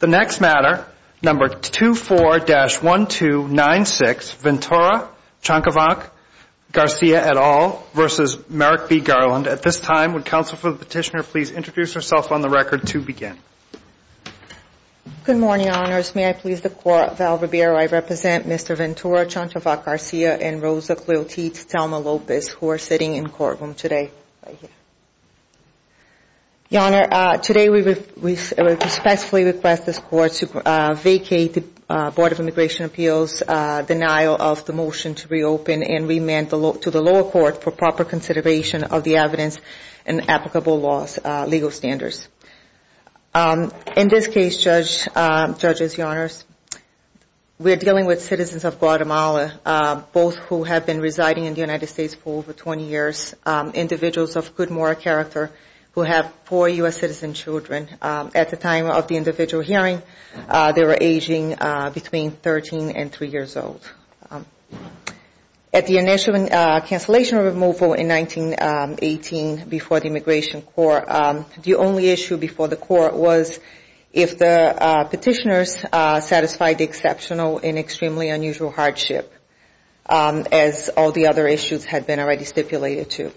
The next matter, number 24-1296, Ventura, Chanchavac, Garcia, et al. v. Merrick B. Garland. At this time, would counsel for the petitioner please introduce herself on the record to begin. Good morning, Your Honors. May I please the Court, Val Ribeiro. I represent Mr. Ventura, Chanchavac Garcia, and Rosa Clotilde Thelma Lopez, who are sitting in the courtroom today. Your Honor, today we respectfully request this Court to vacate the Board of Immigration Appeals' denial of the motion to reopen and remand to the lower court for proper consideration of the evidence and applicable laws, legal standards. In this case, judges, Your Honors, we are dealing with citizens of Guatemala, both who have been residing in the United States for over 20 years, individuals of good moral character who have four U.S. citizen children. At the time of the individual hearing, they were aging between 13 and 3 years old. At the initial cancellation or removal in 1918 before the Immigration Court, the only issue before the Court was if the petitioners satisfied the exceptional and extremely unusual hardship, as all the other issues had been already stipulated to.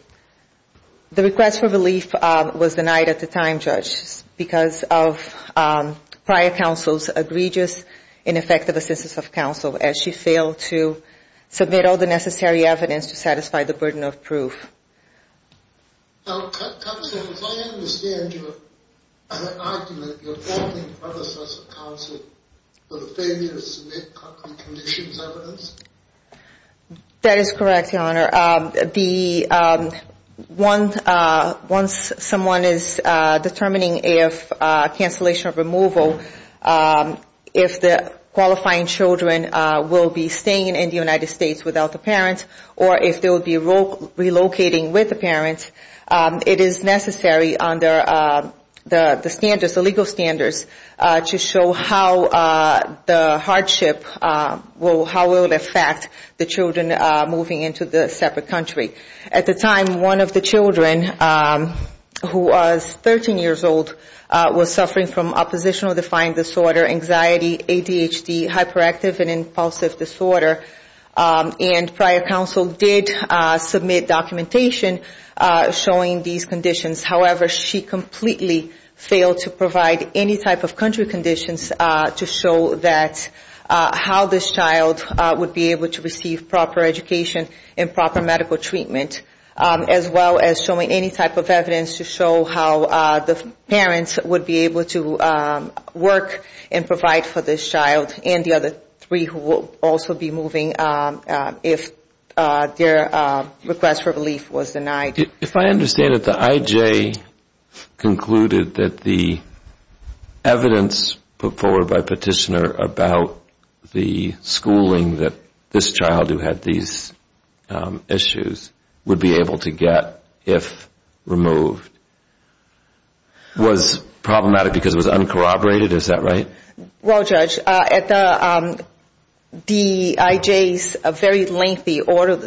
The request for relief was denied at the time, judges, because of prior counsel's egregious, ineffective assistance of counsel as she failed to submit all the necessary evidence to satisfy the burden of proof. Counsel, as I understand your argument, you're faulting the predecessor counsel for the failure to submit concrete conditions evidence? That is correct, Your Honor. Once someone is determining if cancellation or removal, if the qualifying children will be staying in the United States without the parents or if they will be relocating with the parents, it is necessary under the standards, the legal standards, to show how the hardship will affect the children moving into the separate country. At the time, one of the children, who was 13 years old, was suffering from oppositional defiant disorder, anxiety, ADHD, hyperactive and impulsive disorder, and prior counsel did submit documentation showing these conditions. However, she completely failed to provide any type of country conditions to show how this child would be able to receive proper education and proper medical treatment, as well as showing any type of evidence to show how the parents would be able to work and provide for this child. And the other three who will also be moving if their request for relief was denied. If I understand it, the IJ concluded that the evidence put forward by Petitioner about the schooling that this child who had these issues would be able to get if removed was problematic because it was uncorroborated, is that right? Well, Judge, the IJ's very lengthy oral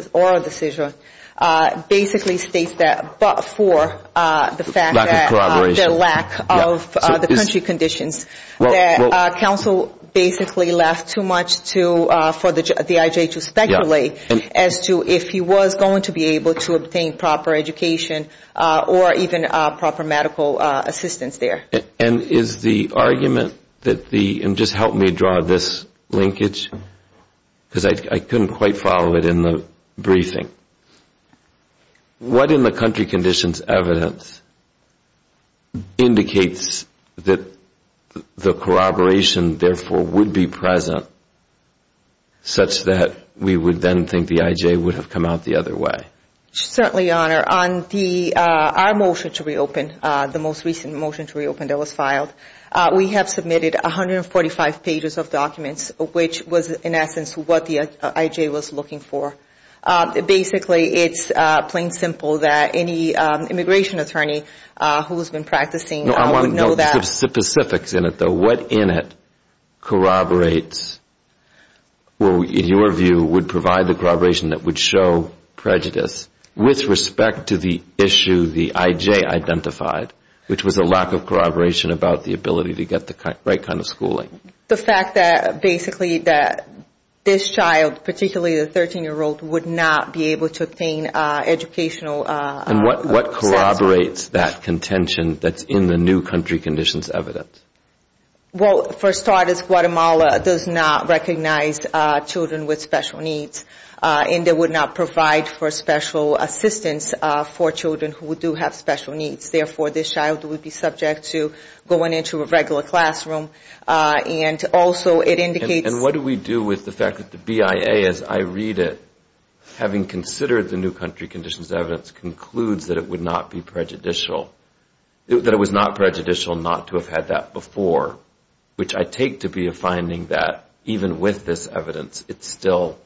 decision basically states that but for the lack of the country conditions, that counsel basically left too much for the IJ to speculate as to if he was going to be able to obtain proper education or even proper medical assistance there. And is the argument that the, and just help me draw this linkage, because I couldn't quite follow it in the briefing. What in the country conditions evidence indicates that the corroboration therefore would be present, such that we would then think the IJ would have come out the other way? Certainly, Your Honor. On our motion to reopen, the most recent motion to reopen that was filed, we have submitted 145 pages of documents, which was in essence what the IJ was looking for. Basically, it's plain simple that any immigration attorney who has been practicing would know that. The specifics in it, though, what in it corroborates or in your view would provide the corroboration that would show prejudice with respect to the issue the IJ identified, which was a lack of corroboration about the ability to get the right kind of schooling? The fact that basically that this child, particularly the 13-year-old, would not be able to obtain educational assistance. And what corroborates that contention that's in the new country conditions evidence? Well, for starters, Guatemala does not recognize children with special needs, and they would not provide for special assistance for children who do have special needs. Therefore, this child would be subject to going into a regular classroom. And what do we do with the fact that the BIA, as I read it, having considered the new country conditions evidence, concludes that it would not be prejudicial, that it was not prejudicial not to have had that before, which I take to be a finding that even with this evidence, it's still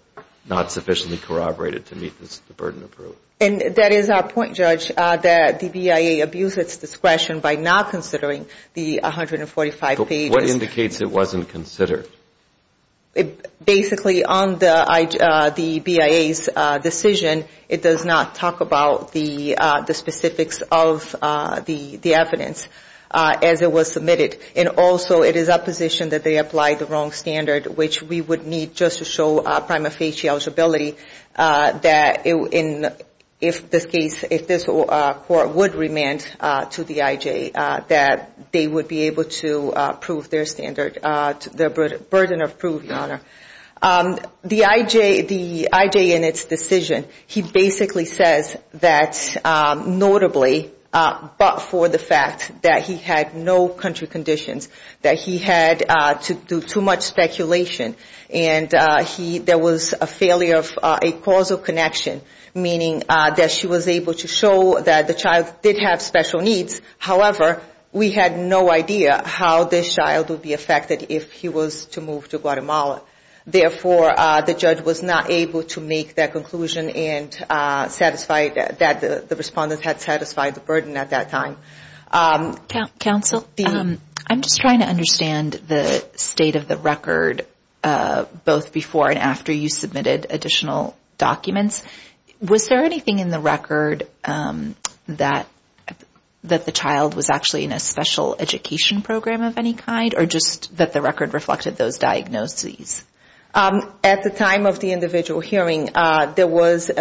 not sufficiently corroborated to meet this burden of proof. And that is our point, Judge, that the BIA abused its discretion by not considering the 145 pages. What indicates it wasn't considered? Basically, on the BIA's decision, it does not talk about the specifics of the evidence as it was submitted. And also, it is our position that they applied the wrong standard, which we would need just to show prima facie eligibility, that if this case, if this court would remand to the IJ, that they would be able to prove their standard, their burden of proof, Your Honor. The IJ, the IJ in its decision, he basically says that notably, but for the fact that he had no country conditions, that he had to do too much speculation, and there was a failure of a causal connection, meaning that she was able to show that the child did have special needs. However, we had no idea how this child would be affected if he was to move to Guatemala. Therefore, the judge was not able to make that conclusion and satisfied that the respondents had satisfied the burden at that time. Counsel, I'm just trying to understand the state of the record, both before and after you submitted additional documents. Was there anything in the record that the child was actually in a special education program of any kind, or just that the record reflected those diagnoses? At the time of the individual hearing, there was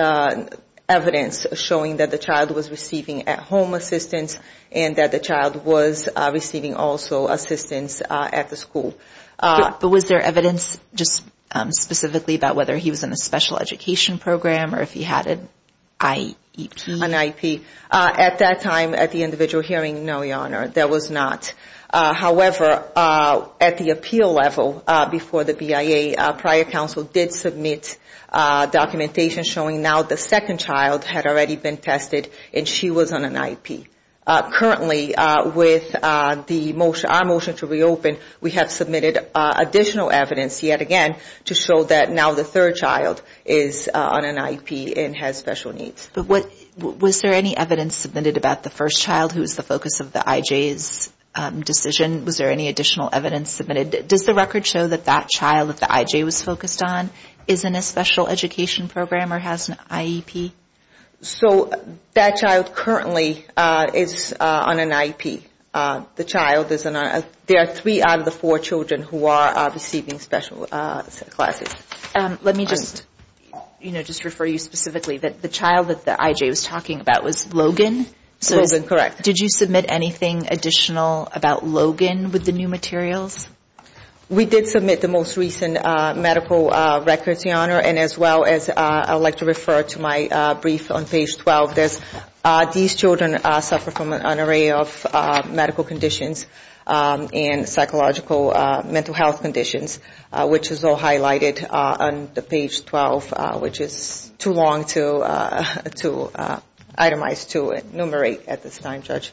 evidence showing that the child was receiving at-home assistance, and that the child was receiving also assistance at the school. But was there evidence just specifically about whether he was in a special education program or if he had an IEP? An IEP. At that time, at the individual hearing, no, Your Honor, there was not. However, at the appeal level before the BIA, prior counsel did submit documentation showing now the second child had already been tested, and she was on an IEP. Currently, with our motion to reopen, we have submitted additional evidence yet again to show that now the third child is on an IEP and has special needs. But was there any evidence submitted about the first child, who was the focus of the IJ's decision? Was there any additional evidence submitted? Does the record show that that child that the IJ was focused on is in a special education program or has an IEP? So that child currently is on an IEP. The child is on an IEP. There are three out of the four children who are receiving special classes. Let me just, you know, just refer you specifically that the child that the IJ was talking about was Logan? Logan, correct. Did you submit anything additional about Logan with the new materials? We did submit the most recent medical records, Your Honor, and as well as I would like to refer to my brief on page 12. These children suffer from an array of medical conditions and psychological mental health conditions, which is all highlighted on the page 12, which is too long to itemize, to enumerate at this time, Judge.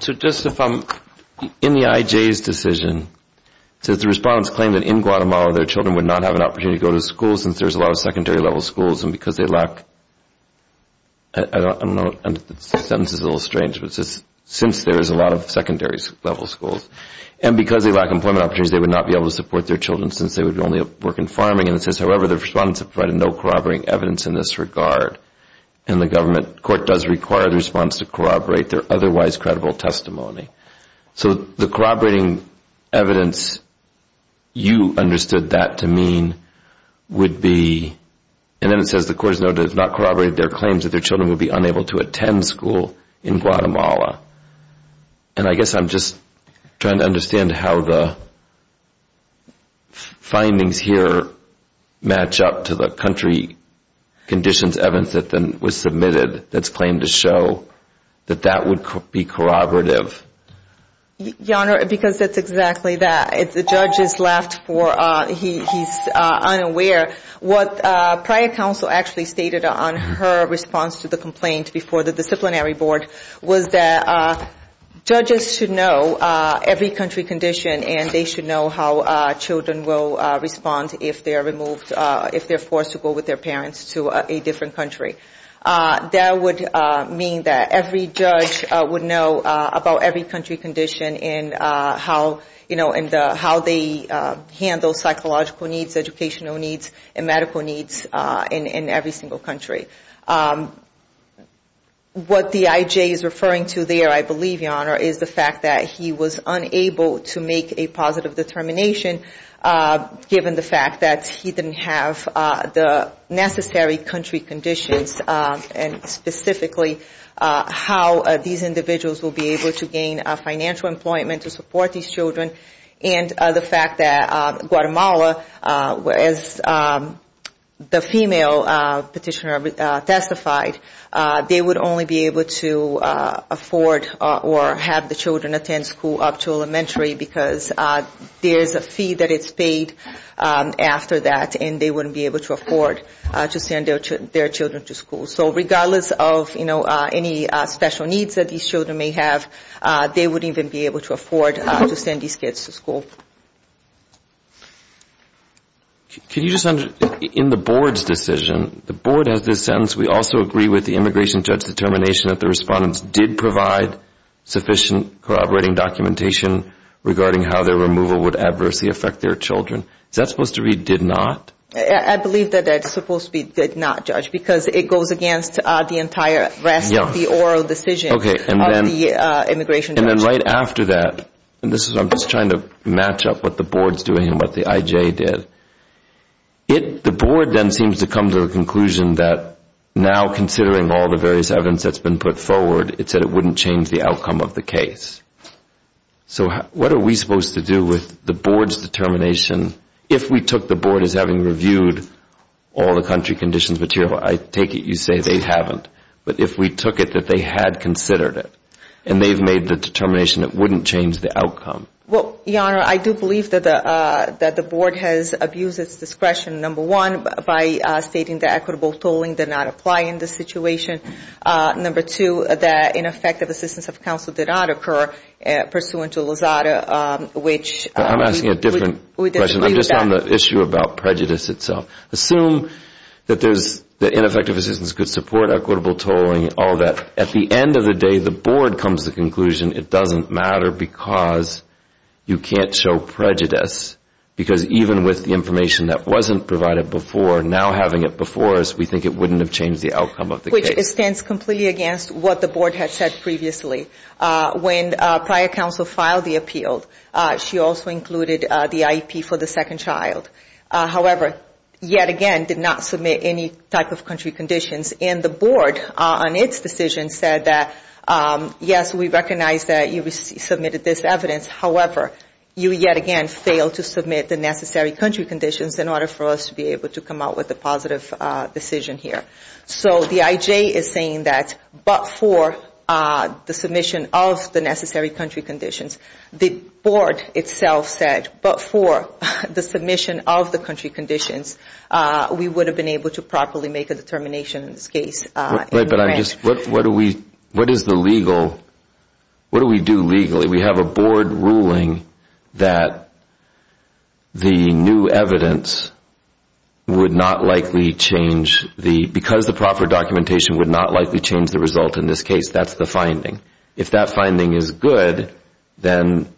So just if I'm in the IJ's decision, does the response claim that in Guatemala their children would not have an opportunity to go to school since there's a lot of secondary level schools and because they lack employment opportunities, they would not be able to support their children since they would only work in farming, and it says, however, the response provided no corroborating evidence in this regard. And the government court does require the response to corroborate their otherwise credible testimony. So the corroborating evidence you understood that to mean would be, and then it says the court has noted it has not corroborated their claims that their children would be able to go to school. That their children would be unable to attend school in Guatemala. And I guess I'm just trying to understand how the findings here match up to the country conditions evidence that was submitted that's claimed to show that that would be corroborative. Your Honor, because it's exactly that. If the judge is left for, he's unaware, what prior counsel actually stated on her response to the complaint before the disciplinary board was that judges should know every country condition and they should know how children will respond if they're removed, if they're forced to go with their parents to a different country. That would mean that every judge would know about every country condition and how, you know, in the country conditions that they're in. How they handle psychological needs, educational needs, and medical needs in every single country. What the IJ is referring to there, I believe, Your Honor, is the fact that he was unable to make a positive determination given the fact that he didn't have the necessary country conditions and specifically how these individuals will be able to gain financial employment to support these children. The fact that Guatemala, as the female petitioner testified, they would only be able to afford or have the children attend school up to elementary because there's a fee that it's paid after that and they wouldn't be able to afford to send their children to school. So regardless of, you know, any special needs that these children may have, they wouldn't even be able to afford to send these kids to school. In the board's decision, the board has this sentence, we also agree with the immigration judge's determination that the respondents did provide sufficient corroborating documentation regarding how their removal would adversely affect their children. Is that supposed to read did not? I believe that it's supposed to be did not, Judge, because it goes against the entire rest of the oral decision of the immigration judge. And then right after that, and I'm just trying to match up what the board's doing and what the IJ did, the board then seems to come to the conclusion that now considering all the various evidence that's been put forward, it said it wouldn't change the outcome of the case. So what are we supposed to do with the board's determination if we took the board as having reviewed all the country conditions material? I take it you say they haven't. Well, Your Honor, I do believe that the board has abused its discretion, number one, by stating that equitable tolling did not apply in this situation. Number two, that ineffective assistance of counsel did not occur pursuant to Lozada, which we disagree with that. I'm asking a different question. I'm just on the issue about prejudice itself. Assume that ineffective assistance could support equitable tolling and all that. At the end of the day, the board comes to the conclusion it doesn't matter because you can't show prejudice. Because even with the information that wasn't provided before, now having it before us, we think it wouldn't have changed the outcome of the case. Which stands completely against what the board had said previously. When prior counsel filed the appeal, she also included the IEP for the second child. However, yet again did not submit any type of country conditions. And the board on its decision said that, yes, we recognize that you submitted this evidence. However, you yet again failed to submit the necessary country conditions in order for us to be able to come out with a positive decision here. So the IJ is saying that but for the submission of the necessary country conditions. The board itself said but for the submission of the country conditions, we would have been able to properly make a determination in this case. But what do we do legally? We have a board ruling that the new evidence would not likely change the, because the proper documentation would not likely change the result in this case. That's the finding. If that finding is good, then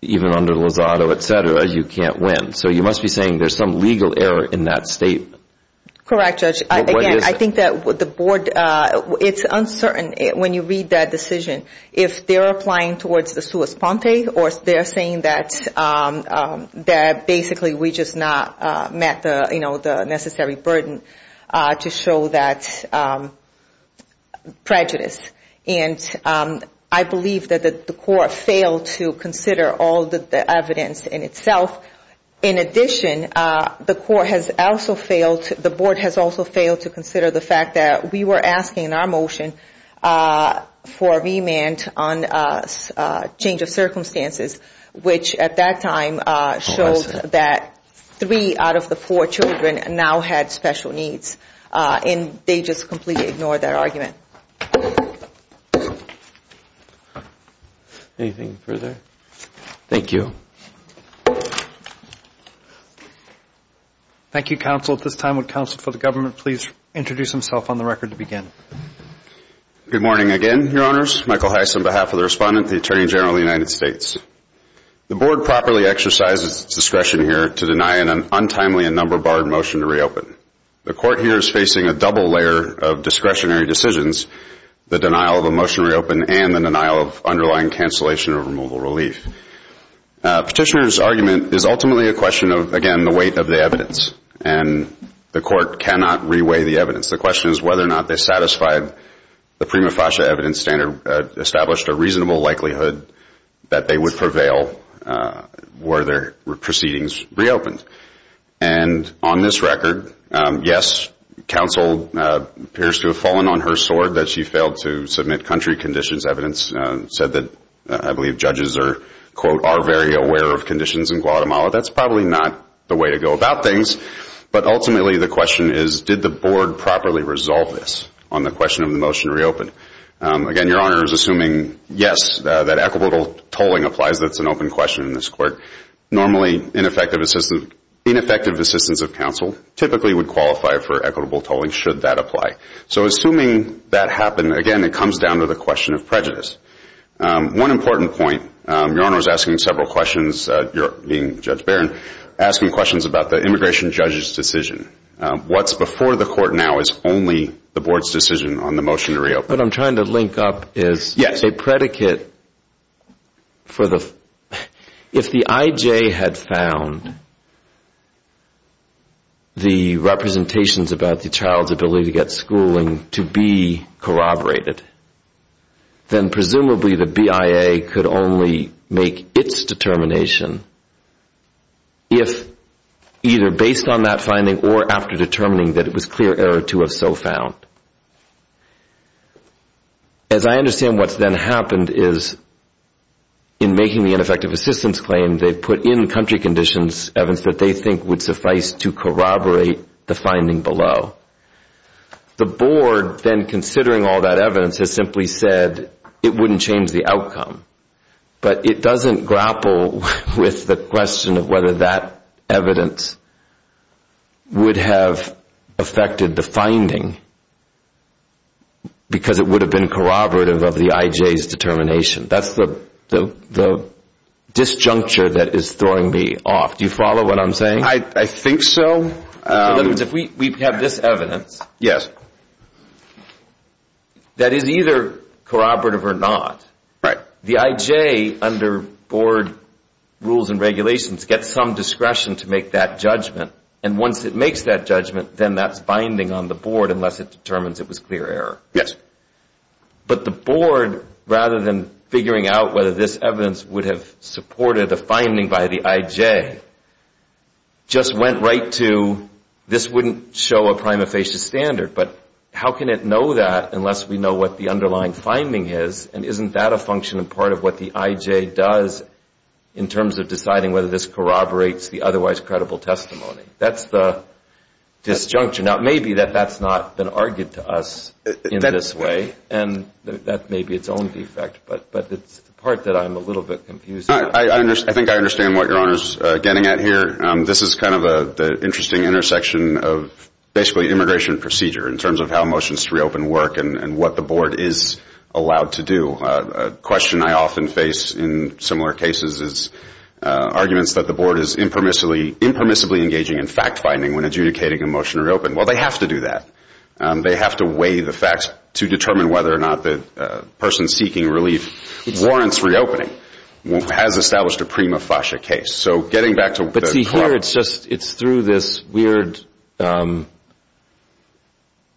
even under Lozado, et cetera, you can't win. So you must be saying there's some legal error in that statement. Correct, Judge. Again, I think that the board, it's uncertain when you read that decision if they're applying towards the sua sponte or they're saying that basically we just not met the necessary burden to show that prejudice. And I believe that the court failed to consider all the evidence in itself. In addition, the court has also failed, the board has also failed to consider the fact that we were asking in our motion for a remand on change of circumstances, which at that time showed that three out of the four children now had special needs. And they just completely ignored that argument. Anything further? Thank you. Thank you, counsel. At this time, would counsel for the government please introduce himself on the record to begin? Good morning again, Your Honors. Michael Heiss on behalf of the Respondent, the Attorney General of the United States. The board properly exercises its discretion here to deny an untimely and number-barred motion to reopen. The court here is facing a double layer of discretionary decisions, the denial of a motion to reopen and the denial of underlying cancellation of removal relief. Petitioner's argument is ultimately a question of, again, the weight of the evidence. And the court cannot reweigh the evidence. The question is whether or not they satisfied the prima facie evidence standard, established a reasonable likelihood that they would prevail were their proceedings reopened. And on this record, yes, counsel appears to have fallen on her sword that she failed to submit country conditions evidence, said that, I believe, judges are, quote, are very aware of conditions in Guatemala. That's probably not the way to go about things. But ultimately, the question is, did the board properly resolve this on the question of the motion to reopen? Again, Your Honor is assuming, yes, that equitable tolling applies. That's an open question in this court. Normally, ineffective assistance of counsel typically would qualify for equitable tolling should that apply. So assuming that happened, again, it comes down to the question of prejudice. One important point, Your Honor is asking several questions, you're being Judge Barron, asking questions about the immigration judge's decision. What's before the court now is only the board's decision on the motion to reopen. But I'm trying to link up is a predicate for the – if the IJ had found the representations about the child's ability to get schooled, what would that have been? If the IJ had found the representations about the child's ability to get schooling to be corroborated, then presumably the BIA could only make its determination if either based on that finding or after determining that it was clear error to have so found. As I understand what's then happened is in making the ineffective assistance claim, they put in country conditions evidence that they think would suffice to corroborate the finding below. The board then considering all that evidence has simply said it wouldn't change the outcome. But it doesn't grapple with the question of whether that evidence would have affected the finding because it would have been corroborative of the IJ's determination. That's the disjuncture that is throwing me off. Do you follow what I'm saying? I think so. In other words, if we have this evidence that is either corroborative or not, the IJ under board rules and regulations gets some discretion to make that judgment. And once it makes that judgment, then that's binding on the board unless it determines it was clear error. Yes. But the board, rather than figuring out whether this evidence would have supported a finding by the IJ, just went right to this wouldn't show a prima facie standard. But how can it know that unless we know what the underlying finding is? And isn't that a function and part of what the IJ does in terms of deciding whether this corroborates the otherwise credible testimony? That's the disjuncture. Now, it may be that that's not been argued to us in this way, and that may be its own defect. But it's the part that I'm a little bit confused about. I think I understand what your Honor is getting at here. This is kind of the interesting intersection of basically immigration procedure in terms of how motions to reopen work and what the board is allowed to do. A question I often face in similar cases is arguments that the board is impermissibly engaging in fact finding when adjudicating a motion to reopen. Well, they have to do that. They have to weigh the facts to determine whether or not the person seeking relief warrants reopening, has established a prima facie case. But see here, it's through this weird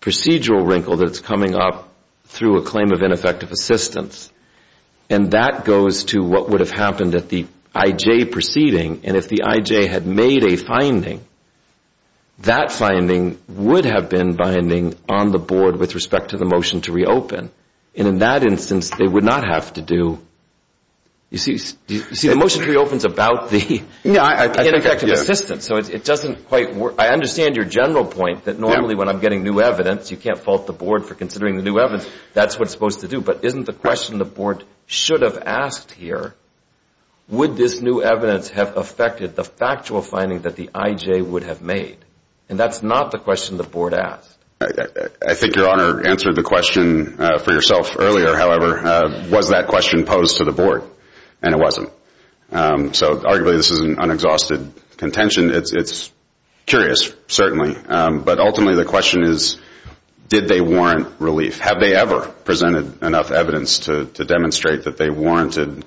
procedural wrinkle that's coming up through a claim of ineffective assistance. And that goes to what would have happened at the IJ proceeding. And if the IJ had made a finding, that finding would have been binding on the board with respect to the motion to reopen. And in that instance, they would not have to do you see the motion reopens about the ineffective assistance. So it doesn't quite work. I understand your general point that normally when I'm getting new evidence, you can't fault the board for considering the new evidence. That's what it's supposed to do. But isn't the question the board should have asked here, would this new evidence have affected the factual finding that the IJ would have made? And that's not the question the board asked. I think your Honor answered the question for yourself earlier, however, was that question posed to the board? And it wasn't. So arguably this is an unexhausted contention. It's curious, certainly. But ultimately the question is, did they warrant relief? Have they ever presented enough evidence to demonstrate that they warranted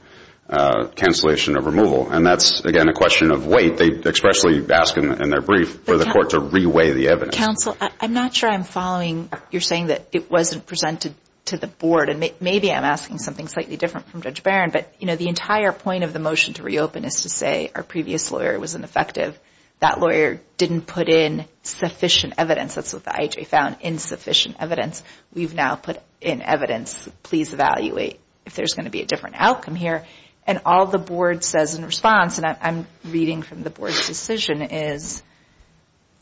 cancellation of removal? And that's, again, a question of weight. That's what they expressly ask in their brief, for the court to re-weigh the evidence. Counsel, I'm not sure I'm following. You're saying that it wasn't presented to the board. And maybe I'm asking something slightly different from Judge Barron. But the entire point of the motion to reopen is to say our previous lawyer was ineffective. That lawyer didn't put in sufficient evidence. That's what the IJ found, insufficient evidence. We've now put in evidence. Please evaluate if there's going to be a different outcome here. And all the board says in response, and I'm reading from the board's decision, is,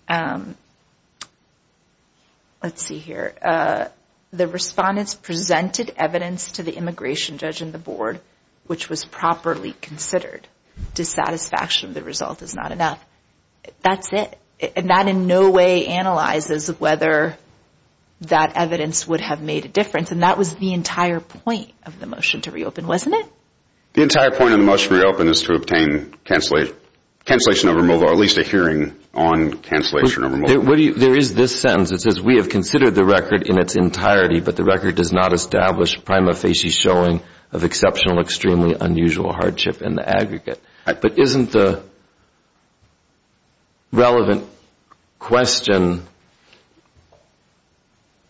let's see here. The respondents presented evidence to the immigration judge and the board, which was properly considered. Dissatisfaction of the result is not enough. That's it. And that in no way analyzes whether that evidence would have made a difference. And that was the entire point of the motion to reopen, wasn't it? The entire point of the motion to reopen is to obtain cancellation of removal, or at least a hearing on cancellation of removal. There is this sentence. It says, we have considered the record in its entirety, but the record does not establish prima facie showing of exceptional, extremely unusual hardship in the aggregate. But isn't the relevant question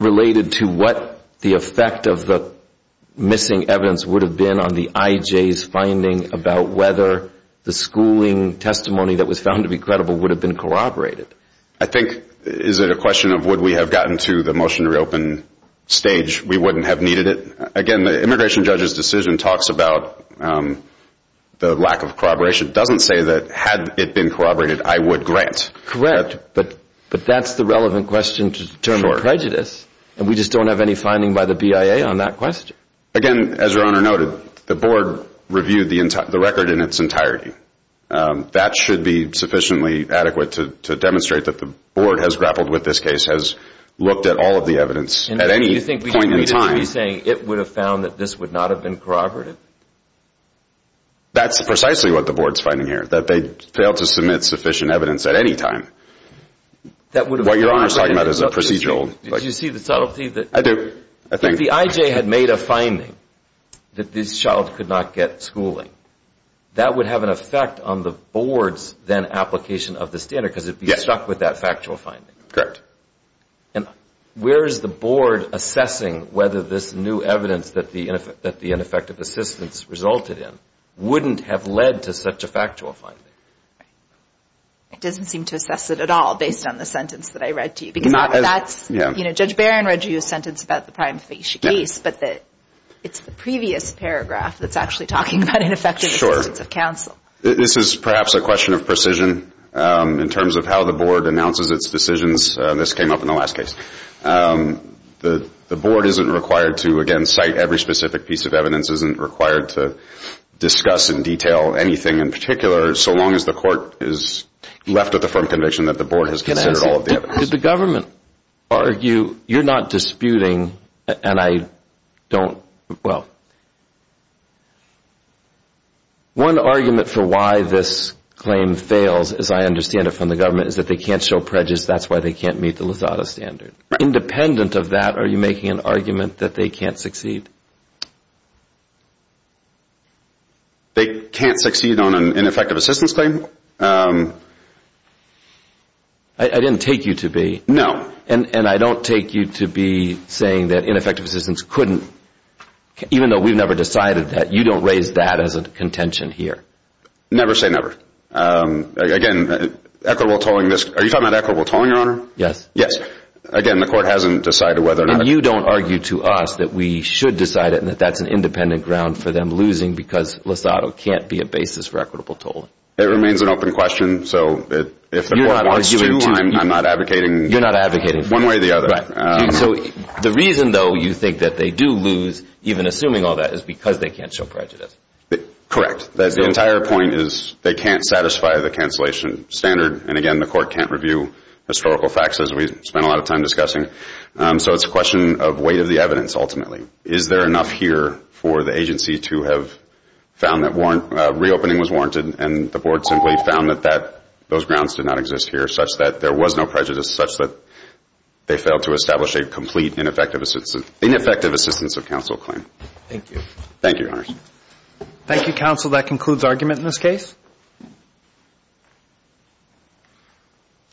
related to what the effect of the missing evidence would have been on the IJ? The IJ's finding about whether the schooling testimony that was found to be credible would have been corroborated. I think, is it a question of would we have gotten to the motion to reopen stage, we wouldn't have needed it? Again, the immigration judge's decision talks about the lack of corroboration. It doesn't say that had it been corroborated, I would grant. Correct, but that's the relevant question to determine prejudice. And we just don't have any finding by the BIA on that question. Again, as your Honor noted, the board reviewed the record in its entirety. That should be sufficiently adequate to demonstrate that the board has grappled with this case, has looked at all of the evidence at any point in time. And you think we should be saying it would have found that this would not have been corroborated? That's precisely what the board's finding here, that they failed to submit sufficient evidence at any time. What your Honor is talking about is a procedural. If the IJ had made a finding that this child could not get schooling, that would have an effect on the board's then application of the standard, because it would be stuck with that factual finding. Correct. And where is the board assessing whether this new evidence that the ineffective assistance resulted in wouldn't have led to such a factual finding? It doesn't seem to assess it at all, based on the sentence that I read to you. Judge Barron read to you a sentence about the prime facie case, but it's the previous paragraph that's actually talking about ineffective assistance of counsel. This is perhaps a question of precision, in terms of how the board announces its decisions. This came up in the last case. The board isn't required to, again, cite every specific piece of evidence, isn't required to discuss in detail anything in particular, so long as it's a factual finding. As long as the court is left with a firm conviction that the board has considered all of the evidence. Did the government argue, you're not disputing, and I don't, well... One argument for why this claim fails, as I understand it from the government, is that they can't show prejudice. That's why they can't meet the LAZADA standard. Independent of that, are you making an argument that they can't succeed? They can't succeed on an ineffective assistance claim? I didn't take you to be. No. And I don't take you to be saying that ineffective assistance couldn't, even though we've never decided that, you don't raise that as a contention here. Never say never. Again, equitable tolling, are you talking about equitable tolling, Your Honor? Yes. Again, the court hasn't decided whether or not... And you don't argue to us that we should decide it and that that's an independent ground for them losing because LAZADA can't be a basis for equitable tolling. It remains an open question, so if the court wants to, I'm not advocating one way or the other. Right. So the reason, though, you think that they do lose, even assuming all that, is because they can't show prejudice. Correct. The entire point is they can't satisfy the cancellation standard, and again, the court can't review historical facts, as we've spent a lot of time discussing. So it's a question of weight of the evidence, ultimately. Is there enough here for the agency to have found that reopening was warranted, and the board simply found that those grounds did not exist here, such that there was no prejudice, such that they failed to establish a complete ineffective assistance of counsel claim. Thank you. Thank you, Your Honor.